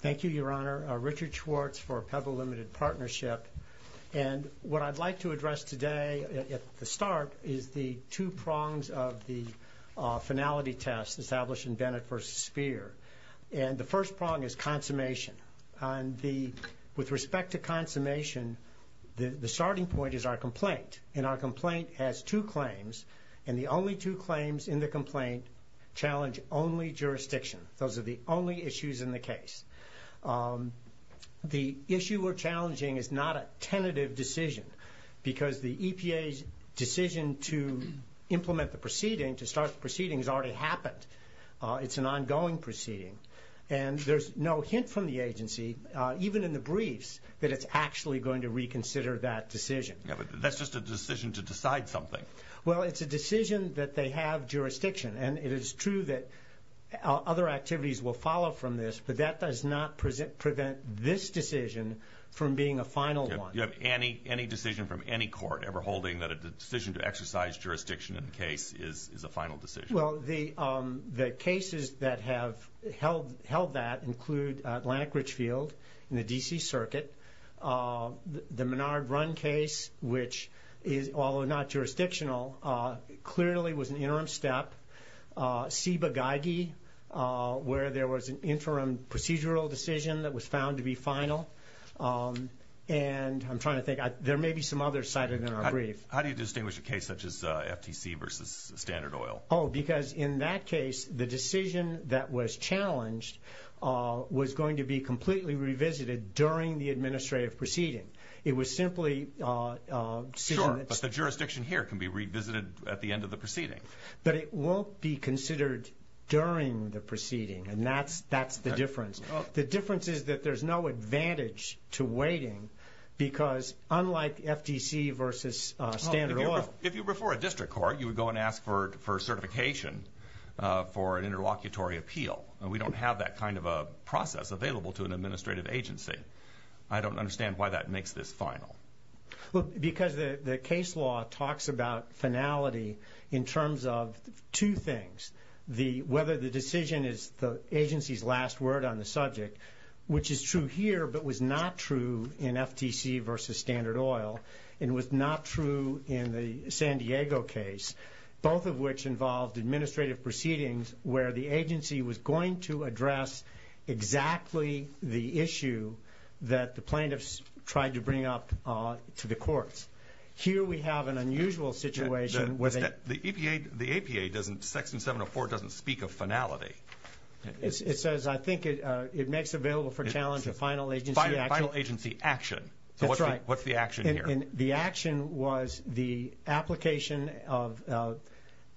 Thank you, Your Honor. Richard Schwartz for Pebble Limited Partnership, and what I'd like to address today at the start is the two prongs of the finality test established in Bennett v. Speer. And the first prong is consummation. With respect to consummation, the starting point is our complaint. And our complaint has two claims, and the only two claims in the complaint challenge only jurisdiction. Those are the only issues in the case. The issue we're challenging is not a tentative decision, because the EPA's decision to implement the proceeding, to start the proceeding, has already happened. It's an ongoing proceeding, and there's no hint from the agency, even in the briefs, that it's actually going to reconsider that decision. But that's just a decision to decide something. Well, it's a decision that they have jurisdiction, and it is true that other activities will follow from this, but that does not prevent this decision from being a final one. Do you have any decision from any court ever holding that a decision to exercise jurisdiction in a case is a final decision? Well, the cases that have held that include Atlantic Richfield in the D.C. Circuit, the Menard Run case, which, although not jurisdictional, clearly was an interim step, Ciba-Geigy, where there was an interim procedural decision that was found to be final, and I'm trying to think. There may be some others cited in our brief. How do you distinguish a case such as FTC versus Standard Oil? Oh, because in that case, the decision that was challenged was going to be completely revisited during the administrative proceeding. It was simply a decision that's... Sure, but the jurisdiction here can be revisited at the end of the proceeding. But it won't be considered during the proceeding, and that's the difference. The difference is that there's no advantage to waiting, because unlike FTC versus Standard Oil... for an interlocutory appeal. We don't have that kind of a process available to an administrative agency. I don't understand why that makes this final. Because the case law talks about finality in terms of two things, whether the decision is the agency's last word on the subject, which is true here but was not true in FTC versus Standard Oil, and was not true in the San Diego case, both of which involved administrative proceedings where the agency was going to address exactly the issue that the plaintiffs tried to bring up to the courts. Here we have an unusual situation. The APA doesn't... Section 704 doesn't speak of finality. It says, I think it makes available for challenge a final agency action. Final agency action. That's right. So what's the action here? The action was the application of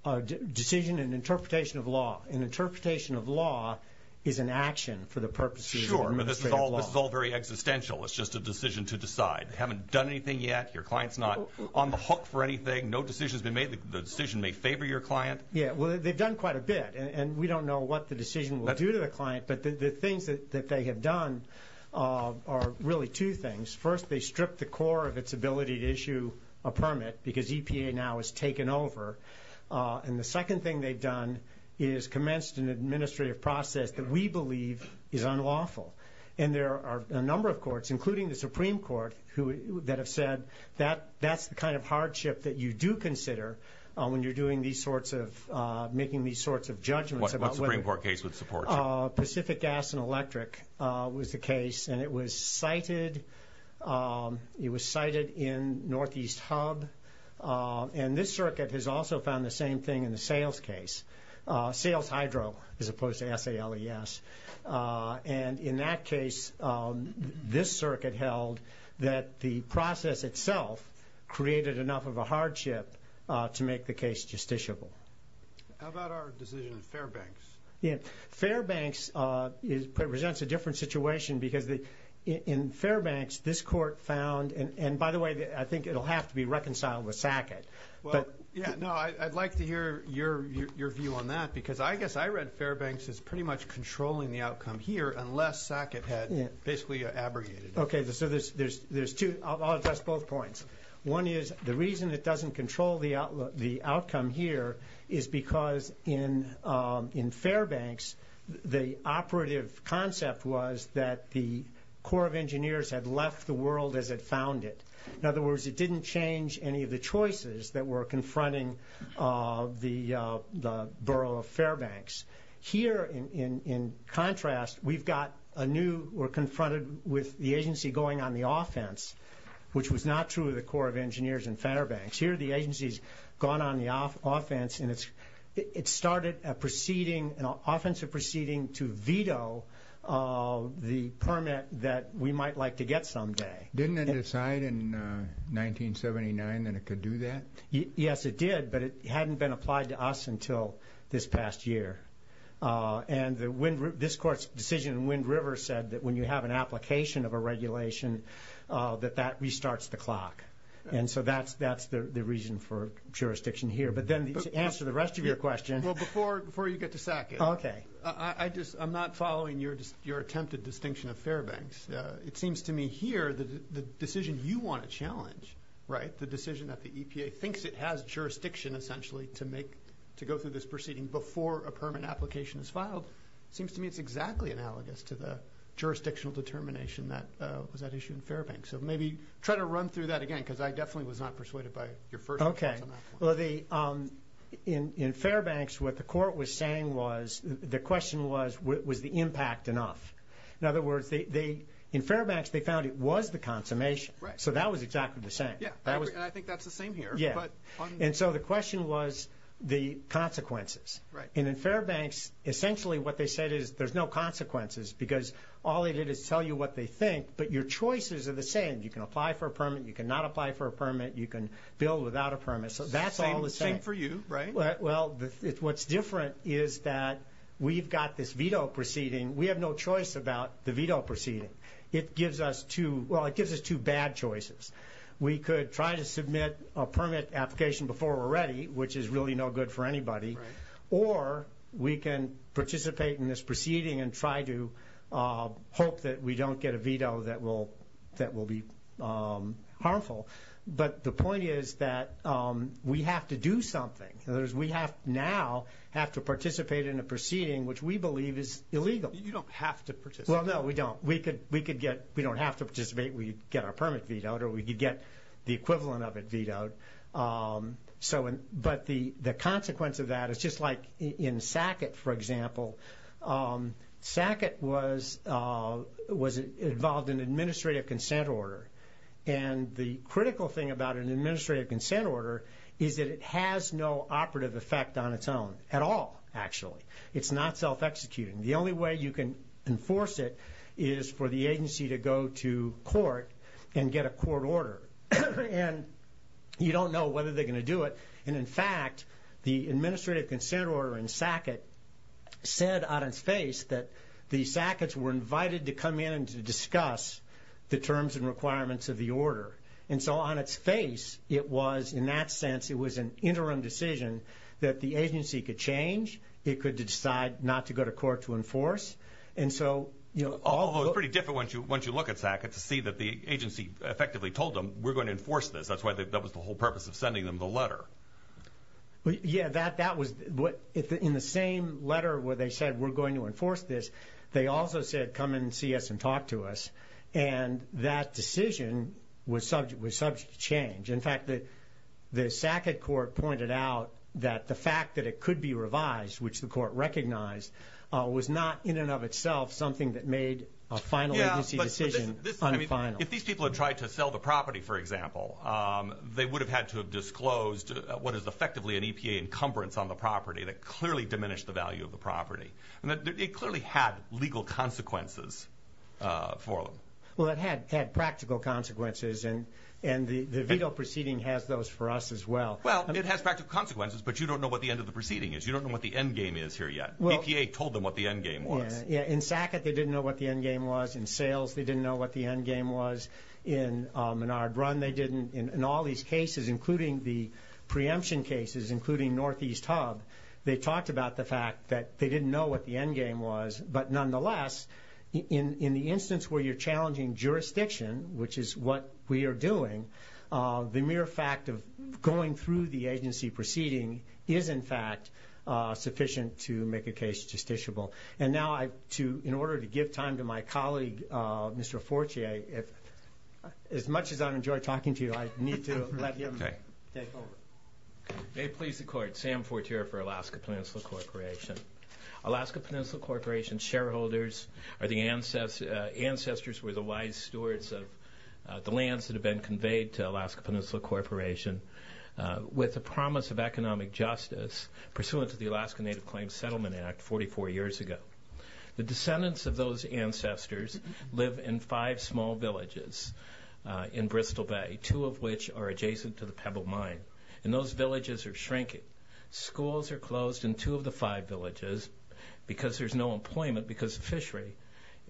a decision and interpretation of law. An interpretation of law is an action for the purposes of administrative law. Sure, but this is all very existential. It's just a decision to decide. They haven't done anything yet. Your client's not on the hook for anything. No decision's been made. The decision may favor your client. Yeah, well, they've done quite a bit, and we don't know what the decision will do to the client, but the things that they have done are really two things. First, they stripped the core of its ability to issue a permit because EPA now has taken over, and the second thing they've done is commenced an administrative process that we believe is unlawful. And there are a number of courts, including the Supreme Court, that have said that that's the kind of hardship that you do consider when you're doing these sorts of making these sorts of judgments about whether... What Supreme Court case would support you? Pacific Gas and Electric was the case, and it was cited in Northeast Hub, and this circuit has also found the same thing in the sales case, sales hydro as opposed to S-A-L-E-S. And in that case, this circuit held that the process itself created enough of a hardship to make the case justiciable. How about our decision in Fairbanks? Fairbanks presents a different situation because in Fairbanks, this court found, and by the way, I think it will have to be reconciled with Sackett. No, I'd like to hear your view on that because I guess I read Fairbanks as pretty much controlling the outcome here unless Sackett had basically abrogated it. Okay, so there's two. I'll address both points. One is the reason it doesn't control the outcome here is because in Fairbanks, the operative concept was that the Corps of Engineers had left the world as it found it. In other words, it didn't change any of the choices that were confronting the borough of Fairbanks. Here, in contrast, we've got a new, we're confronted with the agency going on the offense, which was not true of the Corps of Engineers in Fairbanks. Here, the agency's gone on the offense, and it started a proceeding, an offensive proceeding to veto the permit that we might like to get someday. Didn't it decide in 1979 that it could do that? Yes, it did, but it hadn't been applied to us until this past year. And this court's decision in Wind River said that when you have an application of a regulation, that that restarts the clock. And so that's the reason for jurisdiction here. But then to answer the rest of your question. Well, before you get to Sackett, I'm not following your attempted distinction of Fairbanks. It seems to me here that the decision you want to challenge, right, the decision that the EPA thinks it has jurisdiction, essentially, to go through this proceeding before a permit application is filed. It seems to me it's exactly analogous to the jurisdictional determination that was at issue in Fairbanks. So maybe try to run through that again, because I definitely was not persuaded by your first response on that point. Okay. In Fairbanks, what the court was saying was, the question was, was the impact enough? In other words, in Fairbanks, they found it was the consummation. Right. So that was exactly the same. Yeah. And I think that's the same here. Yeah. And so the question was the consequences. Right. And in Fairbanks, essentially what they said is there's no consequences, because all they did is tell you what they think, but your choices are the same. You can apply for a permit. You cannot apply for a permit. You can bill without a permit. So that's all the same. Same for you, right? Well, what's different is that we've got this veto proceeding. We have no choice about the veto proceeding. It gives us two bad choices. We could try to submit a permit application before we're ready, which is really no good for anybody. Right. Or we can participate in this proceeding and try to hope that we don't get a veto that will be harmful. But the point is that we have to do something. In other words, we now have to participate in a proceeding which we believe is illegal. You don't have to participate. Well, no, we don't. We don't have to participate. We get our permit vetoed, or we could get the equivalent of it vetoed. But the consequence of that is just like in SACIT, for example. SACIT was involved in an administrative consent order, and the critical thing about an administrative consent order is that it has no operative effect on its own, at all, actually. It's not self-executing. The only way you can enforce it is for the agency to go to court and get a court order. And you don't know whether they're going to do it. And, in fact, the administrative consent order in SACIT said on its face that the SACITs were invited to come in and to discuss the terms and requirements of the order. And so on its face, it was, in that sense, it was an interim decision that the agency could change. It could decide not to go to court to enforce. And so, you know, all of those. Although it's pretty different once you look at SACIT to see that the agency effectively told them, we're going to enforce this. That's why that was the whole purpose of sending them the letter. Yeah, that was what, in the same letter where they said we're going to enforce this, they also said come in and see us and talk to us. And that decision was subject to change. In fact, the SACIT court pointed out that the fact that it could be revised, which the court recognized, was not in and of itself something that made a final agency decision unfinal. If these people had tried to sell the property, for example, they would have had to have disclosed what is effectively an EPA encumbrance on the property that clearly diminished the value of the property. It clearly had legal consequences for them. Well, it had practical consequences. And the veto proceeding has those for us as well. Well, it has practical consequences, but you don't know what the end of the proceeding is. You don't know what the end game is here yet. EPA told them what the end game was. In SACIT, they didn't know what the end game was. In sales, they didn't know what the end game was. In Menard Run, they didn't. In all these cases, including the preemption cases, including Northeast Hub, they talked about the fact that they didn't know what the end game was. But nonetheless, in the instance where you're challenging jurisdiction, which is what we are doing, the mere fact of going through the agency proceeding is, in fact, sufficient to make a case justiciable. And now, in order to give time to my colleague, Mr. Fortier, as much as I enjoy talking to you, I need to let him take over. May it please the Court. Sam Fortier for Alaska Peninsula Corporation. Alaska Peninsula Corporation shareholders are the ancestors who were the wise stewards of the lands that have been conveyed to Alaska Peninsula Corporation with the promise of economic justice pursuant to the Alaska Native Claims Settlement Act 44 years ago. The descendants of those ancestors live in five small villages in Bristol Bay, two of which are adjacent to the Pebble Mine. And those villages are shrinking. Schools are closed in two of the five villages because there's no employment, because the fishery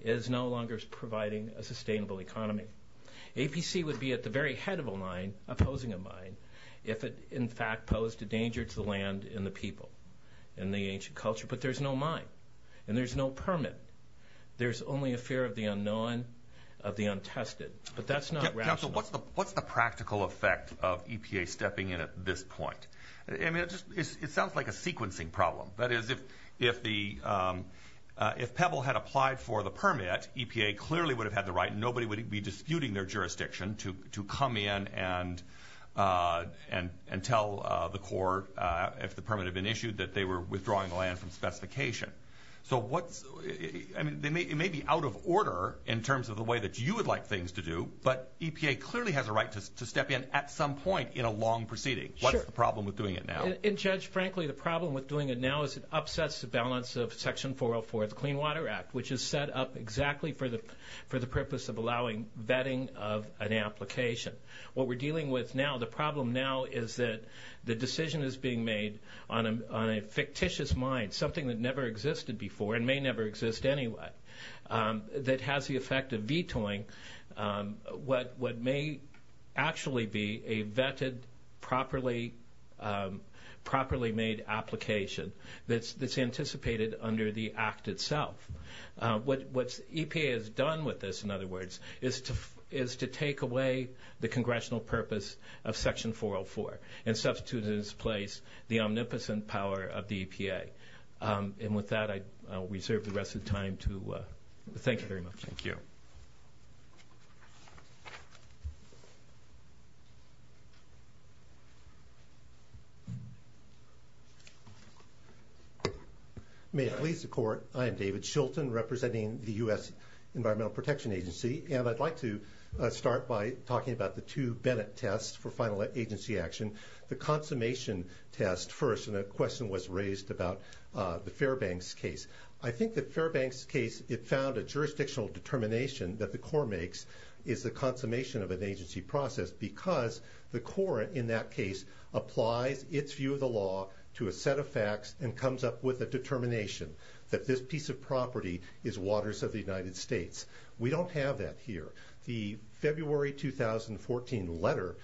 is no longer providing a sustainable economy. APC would be at the very head of a mine, opposing a mine, if it, in fact, posed a danger to the land and the people and the ancient culture. But there's no mine, and there's no permit. There's only a fear of the unknown, of the untested. But that's not rational. Now, so what's the practical effect of EPA stepping in at this point? I mean, it sounds like a sequencing problem. That is, if Pebble had applied for the permit, EPA clearly would have had the right and nobody would be disputing their jurisdiction to come in and tell the court, if the permit had been issued, that they were withdrawing the land from specification. So what's – I mean, it may be out of order in terms of the way that you would like things to do, but EPA clearly has a right to step in at some point in a long proceeding. What's the problem with doing it now? Judge, frankly, the problem with doing it now is it upsets the balance of Section 404 of the Clean Water Act, which is set up exactly for the purpose of allowing vetting of an application. What we're dealing with now, the problem now is that the decision is being made on a fictitious mine, something that never existed before and may never exist anyway, that has the effect of vetoing what may actually be a vetted, properly made application that's anticipated under the Act itself. What EPA has done with this, in other words, is to take away the congressional purpose of Section 404 and substitute in its place the omnipotent power of the EPA. And with that, I reserve the rest of the time to thank you very much. Thank you. May it please the Court, I am David Shilton, representing the U.S. Environmental Protection Agency, and I'd like to start by talking about the two Bennett tests for final agency action. The consummation test first, and a question was raised about the Fairbanks case. I think the Fairbanks case, it found a jurisdictional determination that the Corps makes is the consummation of an agency process because the Corps, in that case, applies its view of the law to a set of facts and comes up with a determination that this piece of property is waters of the United States. We don't have that here. The February 2014 letter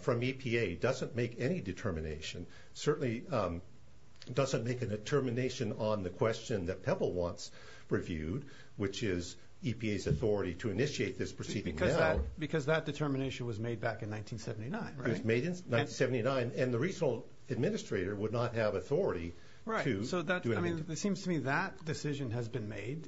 from EPA doesn't make any determination, certainly doesn't make a determination on the question that Pebble once reviewed, which is EPA's authority to initiate this proceeding now. Because that determination was made back in 1979, right? It was made in 1979, and the regional administrator would not have authority to do anything. Right. It seems to me that decision has been made.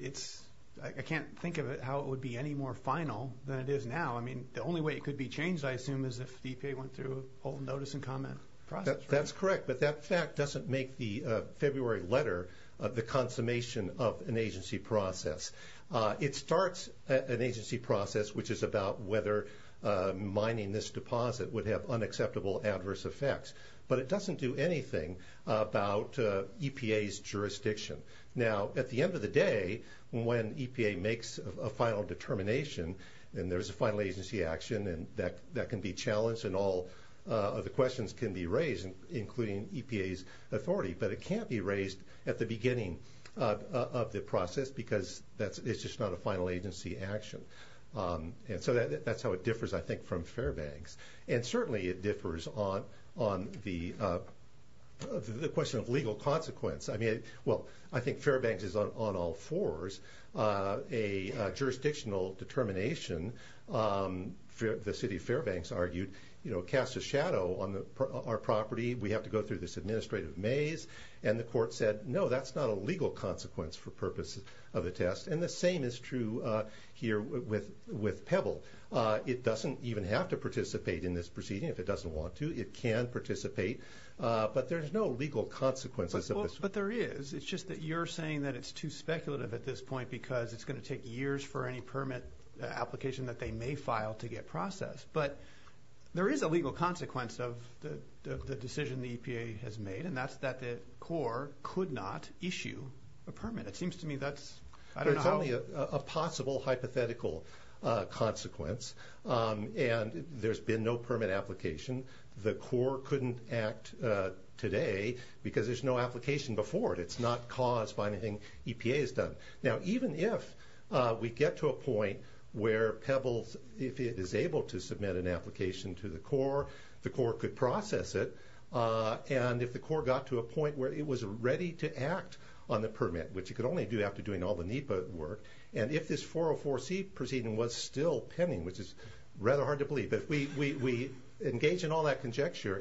I can't think of how it would be any more final than it is now. I mean, the only way it could be changed, I assume, is if EPA went through a whole notice and comment process. That's correct. But that fact doesn't make the February letter the consummation of an agency process. It starts an agency process, which is about whether mining this deposit would have unacceptable adverse effects. But it doesn't do anything about EPA's jurisdiction. Now, at the end of the day, when EPA makes a final determination and there's a final agency action, and that can be challenged and all of the questions can be raised, including EPA's authority. But it can't be raised at the beginning of the process because it's just not a final agency action. And so that's how it differs, I think, from Fairbanks. And certainly it differs on the question of legal consequence. I mean, well, I think Fairbanks is on all fours. A jurisdictional determination, the city of Fairbanks argued, casts a shadow on our property. We have to go through this administrative maze. And the court said, no, that's not a legal consequence for purpose of the test. And the same is true here with Pebble. It doesn't even have to participate in this proceeding if it doesn't want to. It can participate. But there's no legal consequences of this. But there is. It's just that you're saying that it's too speculative at this point because it's going to take years for any permit application that they may file to get processed. But there is a legal consequence of the decision the EPA has made, and that's that the Corps could not issue a permit. It seems to me that's – I don't know how – There's only a possible hypothetical consequence. And there's been no permit application. The Corps couldn't act today because there's no application before it. It's not caused by anything EPA has done. Now, even if we get to a point where Pebble, if it is able to submit an application to the Corps, the Corps could process it. And if the Corps got to a point where it was ready to act on the permit, which it could only do after doing all the NEPA work, and if this 404C proceeding was still pending, which is rather hard to believe, but if we engage in all that conjecture,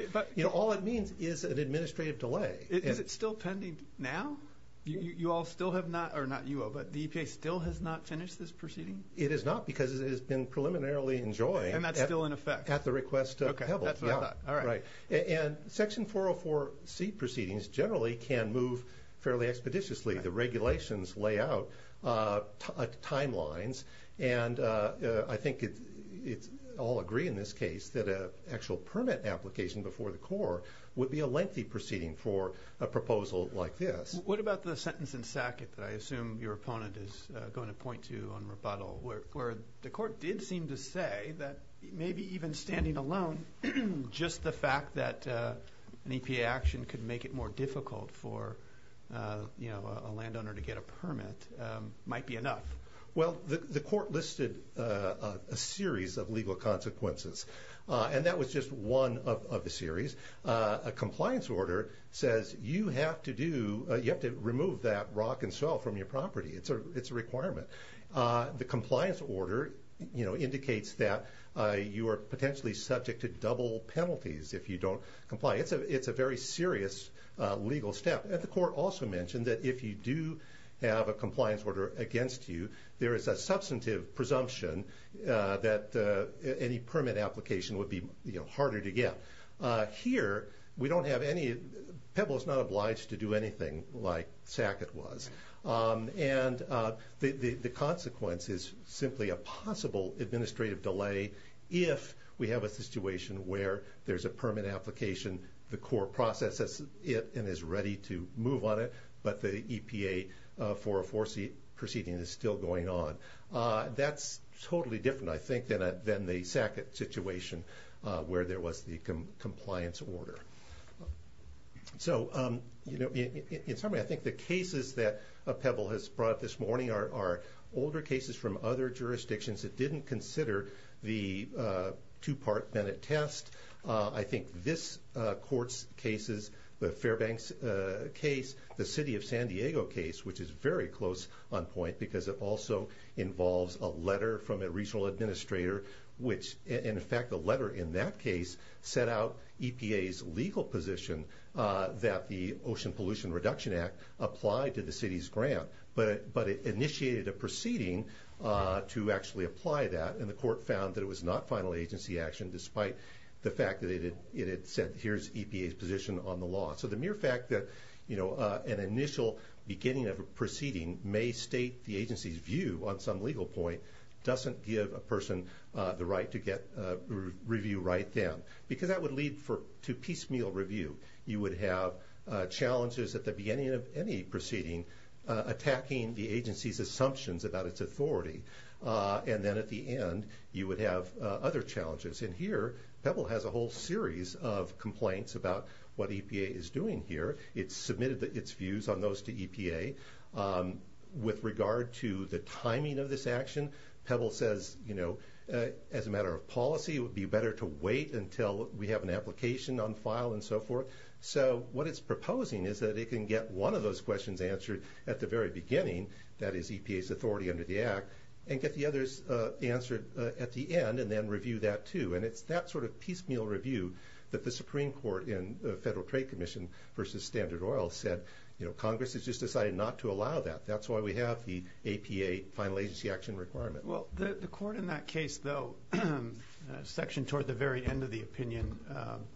all it means is an administrative delay. Is it still pending now? You all still have not – or not you all, but the EPA still has not finished this proceeding? It is not because it has been preliminarily enjoined. And that's still in effect? At the request of Pebble. Okay, that's what I thought. All right. And Section 404C proceedings generally can move fairly expeditiously. The regulations lay out timelines, and I think we all agree in this case that an actual permit application before the Corps would be a lengthy proceeding for a proposal like this. What about the sentence in Sackett that I assume your opponent is going to point to on rebuttal, where the Court did seem to say that maybe even standing alone, just the fact that an EPA action could make it more difficult for a landowner to get a permit might be enough. Well, the Court listed a series of legal consequences, and that was just one of the series. A compliance order says you have to do – you have to remove that rock and soil from your property. It's a requirement. The compliance order indicates that you are potentially subject to double penalties if you don't comply. It's a very serious legal step. And the Court also mentioned that if you do have a compliance order against you, there is a substantive presumption that any permit application would be harder to get. Here, we don't have any – Pebble is not obliged to do anything like Sackett was. And the consequence is simply a possible administrative delay if we have a situation where there's a permit application, the Court processes it and is ready to move on it, but the EPA 404 proceeding is still going on. That's totally different, I think, than the Sackett situation where there was the compliance order. So, you know, in summary, I think the cases that Pebble has brought up this morning are older cases from other jurisdictions that didn't consider the two-part Bennett test. I think this Court's cases, the Fairbanks case, the City of San Diego case, which is very close on point because it also involves a letter from a regional administrator, which, in fact, the letter in that case set out EPA's legal position that the Ocean Pollution Reduction Act applied to the city's grant. But it initiated a proceeding to actually apply that, and the Court found that it was not final agency action despite the fact that it had said, here's EPA's position on the law. So the mere fact that an initial beginning of a proceeding may state the agency's view on some legal point doesn't give a person the right to get review right then because that would lead to piecemeal review. You would have challenges at the beginning of any proceeding attacking the agency's assumptions about its authority, and then at the end you would have other challenges. And here Pebble has a whole series of complaints about what EPA is doing here. With regard to the timing of this action, Pebble says, as a matter of policy, it would be better to wait until we have an application on file and so forth. So what it's proposing is that it can get one of those questions answered at the very beginning, that is EPA's authority under the Act, and get the others answered at the end and then review that too. And it's that sort of piecemeal review that the Supreme Court in the Federal Trade Commission versus Standard Oil said, you know, Congress has just decided not to allow that. That's why we have the APA final agency action requirement. Well, the court in that case, though, sectioned toward the very end of the opinion,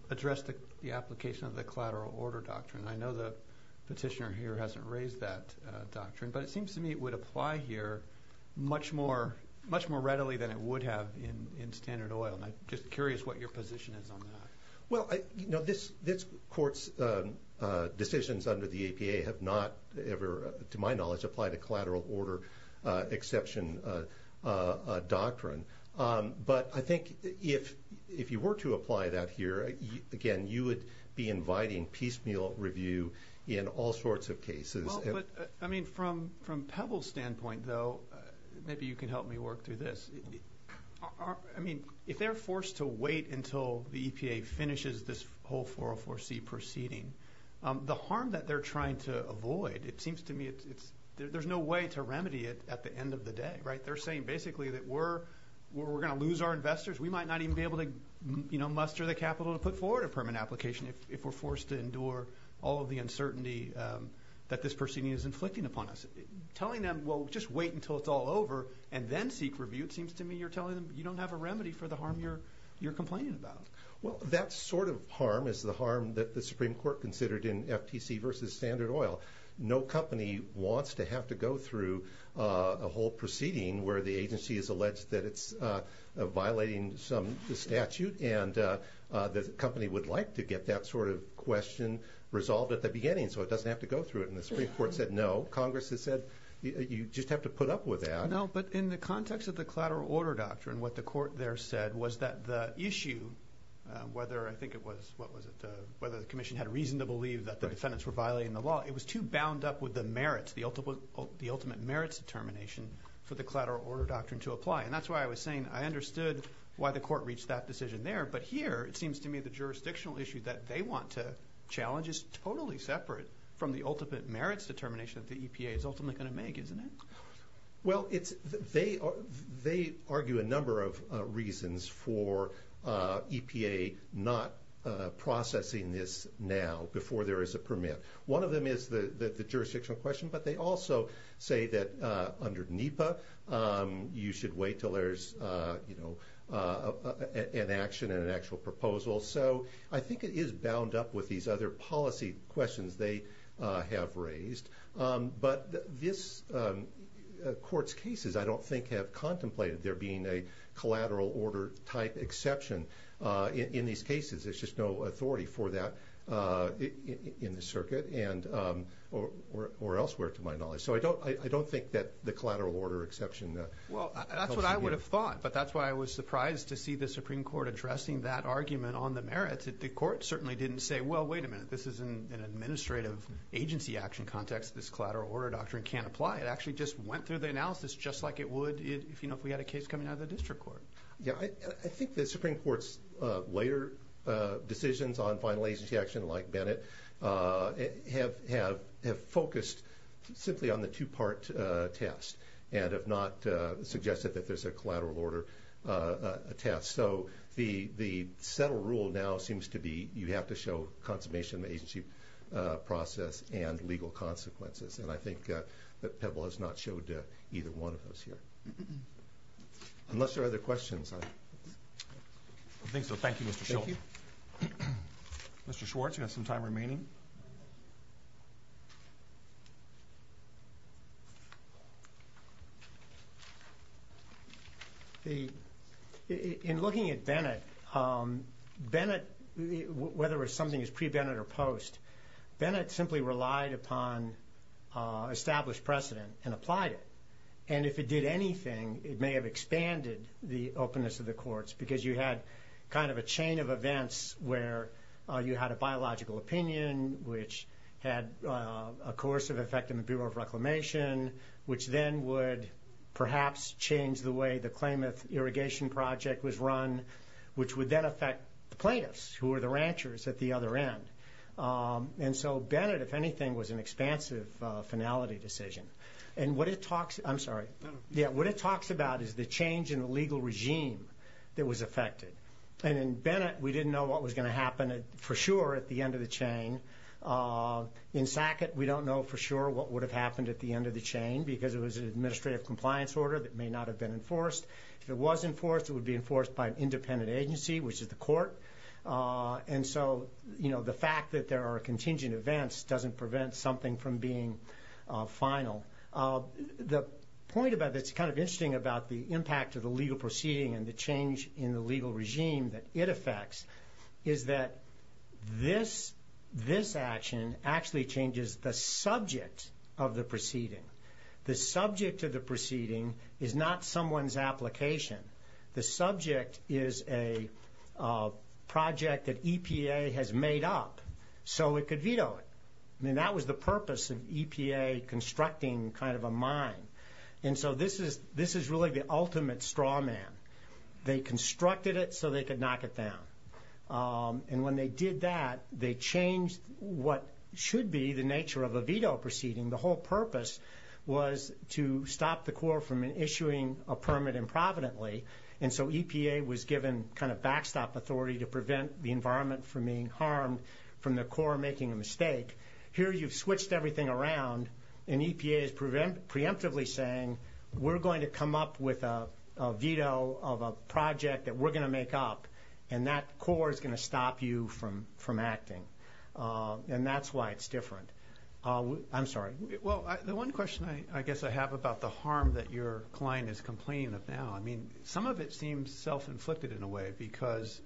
addressed the application of the collateral order doctrine. I know the petitioner here hasn't raised that doctrine, but it seems to me it would apply here much more readily than it would have in Standard Oil. And I'm just curious what your position is on that. Well, you know, this court's decisions under the APA have not ever, to my knowledge, applied a collateral order exception doctrine. But I think if you were to apply that here, again, you would be inviting piecemeal review in all sorts of cases. Well, but, I mean, from Pebble's standpoint, though, maybe you can help me work through this. I mean, if they're forced to wait until the EPA finishes this whole 404C proceeding, the harm that they're trying to avoid, it seems to me there's no way to remedy it at the end of the day, right? They're saying basically that we're going to lose our investors. We might not even be able to, you know, muster the capital to put forward a permit application if we're forced to endure all of the uncertainty that this proceeding is inflicting upon us. Telling them, well, just wait until it's all over and then seek review, it seems to me you're telling them you don't have a remedy for the harm you're complaining about. Well, that sort of harm is the harm that the Supreme Court considered in FTC versus Standard Oil. No company wants to have to go through a whole proceeding where the agency has alleged that it's violating some statute. And the company would like to get that sort of question resolved at the beginning so it doesn't have to go through it. And the Supreme Court said no. Congress has said you just have to put up with that. No, but in the context of the collateral order doctrine, what the court there said was that the issue, whether I think it was, what was it, whether the commission had reason to believe that the defendants were violating the law, it was too bound up with the merits, the ultimate merits determination for the collateral order doctrine to apply. And that's why I was saying I understood why the court reached that decision there. But here it seems to me the jurisdictional issue that they want to challenge is totally separate from the ultimate merits determination that the EPA is ultimately going to make, isn't it? Well, they argue a number of reasons for EPA not processing this now before there is a permit. One of them is the jurisdictional question, but they also say that under NEPA you should wait until there's an action and an actual proposal. So I think it is bound up with these other policy questions they have raised. But this court's cases I don't think have contemplated there being a collateral order type exception in these cases. There's just no authority for that in the circuit or elsewhere to my knowledge. So I don't think that the collateral order exception helps you here. Well, that's what I would have thought, but that's why I was surprised to see the Supreme Court addressing that argument on the merits. The court certainly didn't say, well, wait a minute, this is an administrative agency action context. This collateral order doctrine can't apply. It actually just went through the analysis just like it would if we had a case coming out of the district court. I think the Supreme Court's later decisions on final agency action like Bennett have focused simply on the two-part test and have not suggested that there's a collateral order test. So the settle rule now seems to be you have to show consummation in the agency process and legal consequences, and I think that Pebla has not showed either one of those here. Unless there are other questions. I think so. Thank you, Mr. Schultz. Mr. Schwartz, you have some time remaining. In looking at Bennett, whether something is pre-Bennett or post, Bennett simply relied upon established precedent and applied it. And if it did anything, it may have expanded the openness of the courts because you had kind of a chain of events where you had a biological opinion, which had a coercive effect in the Bureau of Reclamation, which then would perhaps change the way the Klamath irrigation project was run, which would then affect the plaintiffs, who were the ranchers at the other end. And so Bennett, if anything, was an expansive finality decision. And what it talks about is the change in the legal regime that was affected. And in Bennett, we didn't know what was going to happen for sure at the end of the chain. In Sackett, we don't know for sure what would have happened at the end of the chain because it was an administrative compliance order that may not have been enforced. If it was enforced, it would be enforced by an independent agency, which is the court. And so the fact that there are contingent events doesn't prevent something from being final. The point that's kind of interesting about the impact of the legal proceeding and the change in the legal regime that it affects is that this action actually changes the subject of the proceeding. The subject of the proceeding is not someone's application. The subject is a project that EPA has made up so it could veto it. I mean, that was the purpose of EPA constructing kind of a mine. And so this is really the ultimate straw man. They constructed it so they could knock it down. And when they did that, they changed what should be the nature of a veto proceeding. The whole purpose was to stop the court from issuing a permit improvidently. And so EPA was given kind of backstop authority to prevent the environment from being harmed from the court making a mistake. Here you've switched everything around, and EPA is preemptively saying, we're going to come up with a veto of a project that we're going to make up, and that court is going to stop you from acting. And that's why it's different. I'm sorry. Well, the one question I guess I have about the harm that your client is complaining of now, I mean, some of it seems self-inflicted in a way because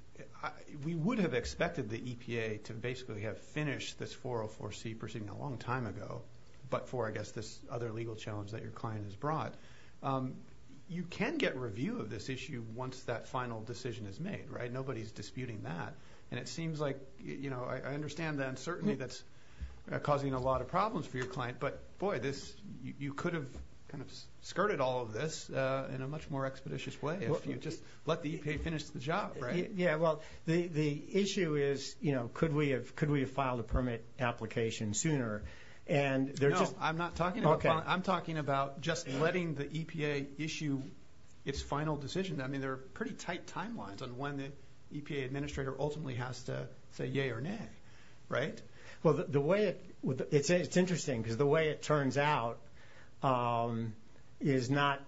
we would have expected the EPA to basically have finished this 404C proceeding a long time ago, but for, I guess, this other legal challenge that your client has brought. You can get review of this issue once that final decision is made, right? Nobody is disputing that. And it seems like, you know, I understand the uncertainty that's causing a lot of problems for your client, but, boy, you could have kind of skirted all of this in a much more expeditious way if you just let the EPA finish the job, right? Yeah, well, the issue is, you know, could we have filed a permit application sooner? No, I'm not talking about that. I'm talking about just letting the EPA issue its final decision. I mean, there are pretty tight timelines on when the EPA administrator ultimately has to say yea or nay, right? Well, it's interesting because the way it turns out is not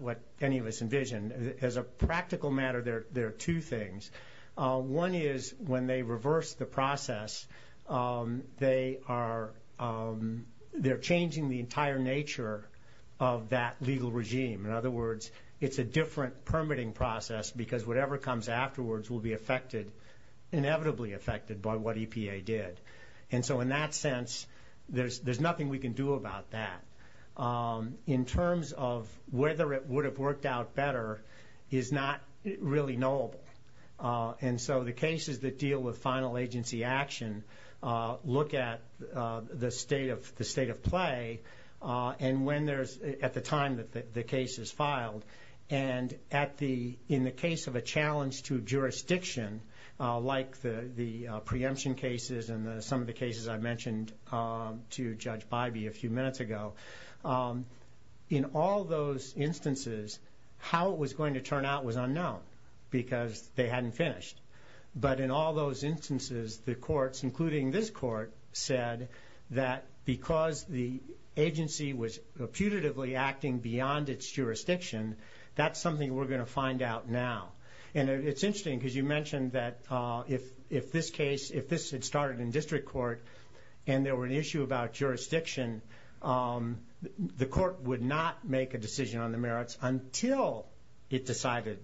what any of us envisioned. As a practical matter, there are two things. One is when they reverse the process, they're changing the entire nature of that legal regime. In other words, it's a different permitting process because whatever comes afterwards will be inevitably affected by what EPA did. And so in that sense, there's nothing we can do about that. In terms of whether it would have worked out better is not really knowable. And so the cases that deal with final agency action look at the state of play, and when there's at the time that the case is filed, and in the case of a challenge to jurisdiction like the preemption cases and some of the cases I mentioned to Judge Bybee a few minutes ago, in all those instances how it was going to turn out was unknown because they hadn't finished. But in all those instances, the courts, including this court, said that because the agency was putatively acting beyond its jurisdiction, that's something we're going to find out now. And it's interesting because you mentioned that if this case, if this had started in district court and there were an issue about jurisdiction, the court would not make a decision on the merits until it decided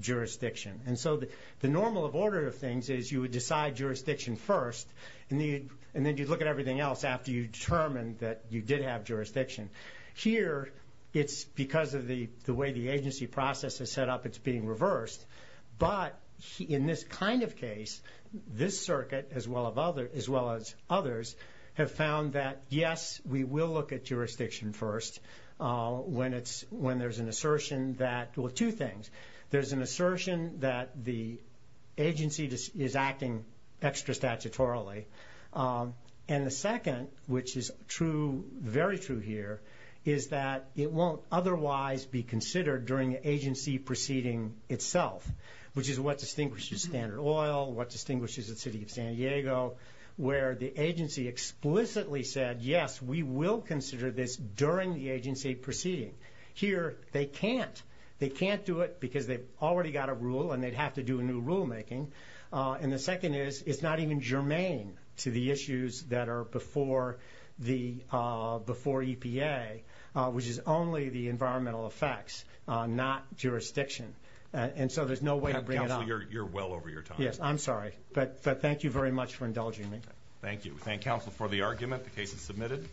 jurisdiction. And so the normal order of things is you would decide jurisdiction first, and then you'd look at everything else after you determined that you did have jurisdiction. Here it's because of the way the agency process is set up, it's being reversed. But in this kind of case, this circuit, as well as others, have found that, yes, we will look at jurisdiction first when there's an assertion that, well, two things. There's an assertion that the agency is acting extra statutorily. And the second, which is true, very true here, is that it won't otherwise be considered during the agency proceeding itself, which is what distinguishes Standard Oil, what distinguishes the City of San Diego, where the agency explicitly said, yes, we will consider this during the agency proceeding. Here they can't. They can't do it because they've already got a rule and they'd have to do a new rulemaking. And the second is it's not even germane to the issues that are before EPA, which is only the environmental effects, not jurisdiction. And so there's no way to bring it up. Counsel, you're well over your time. Yes, I'm sorry. But thank you very much for indulging me. Thank you. We thank counsel for the argument. The case is submitted.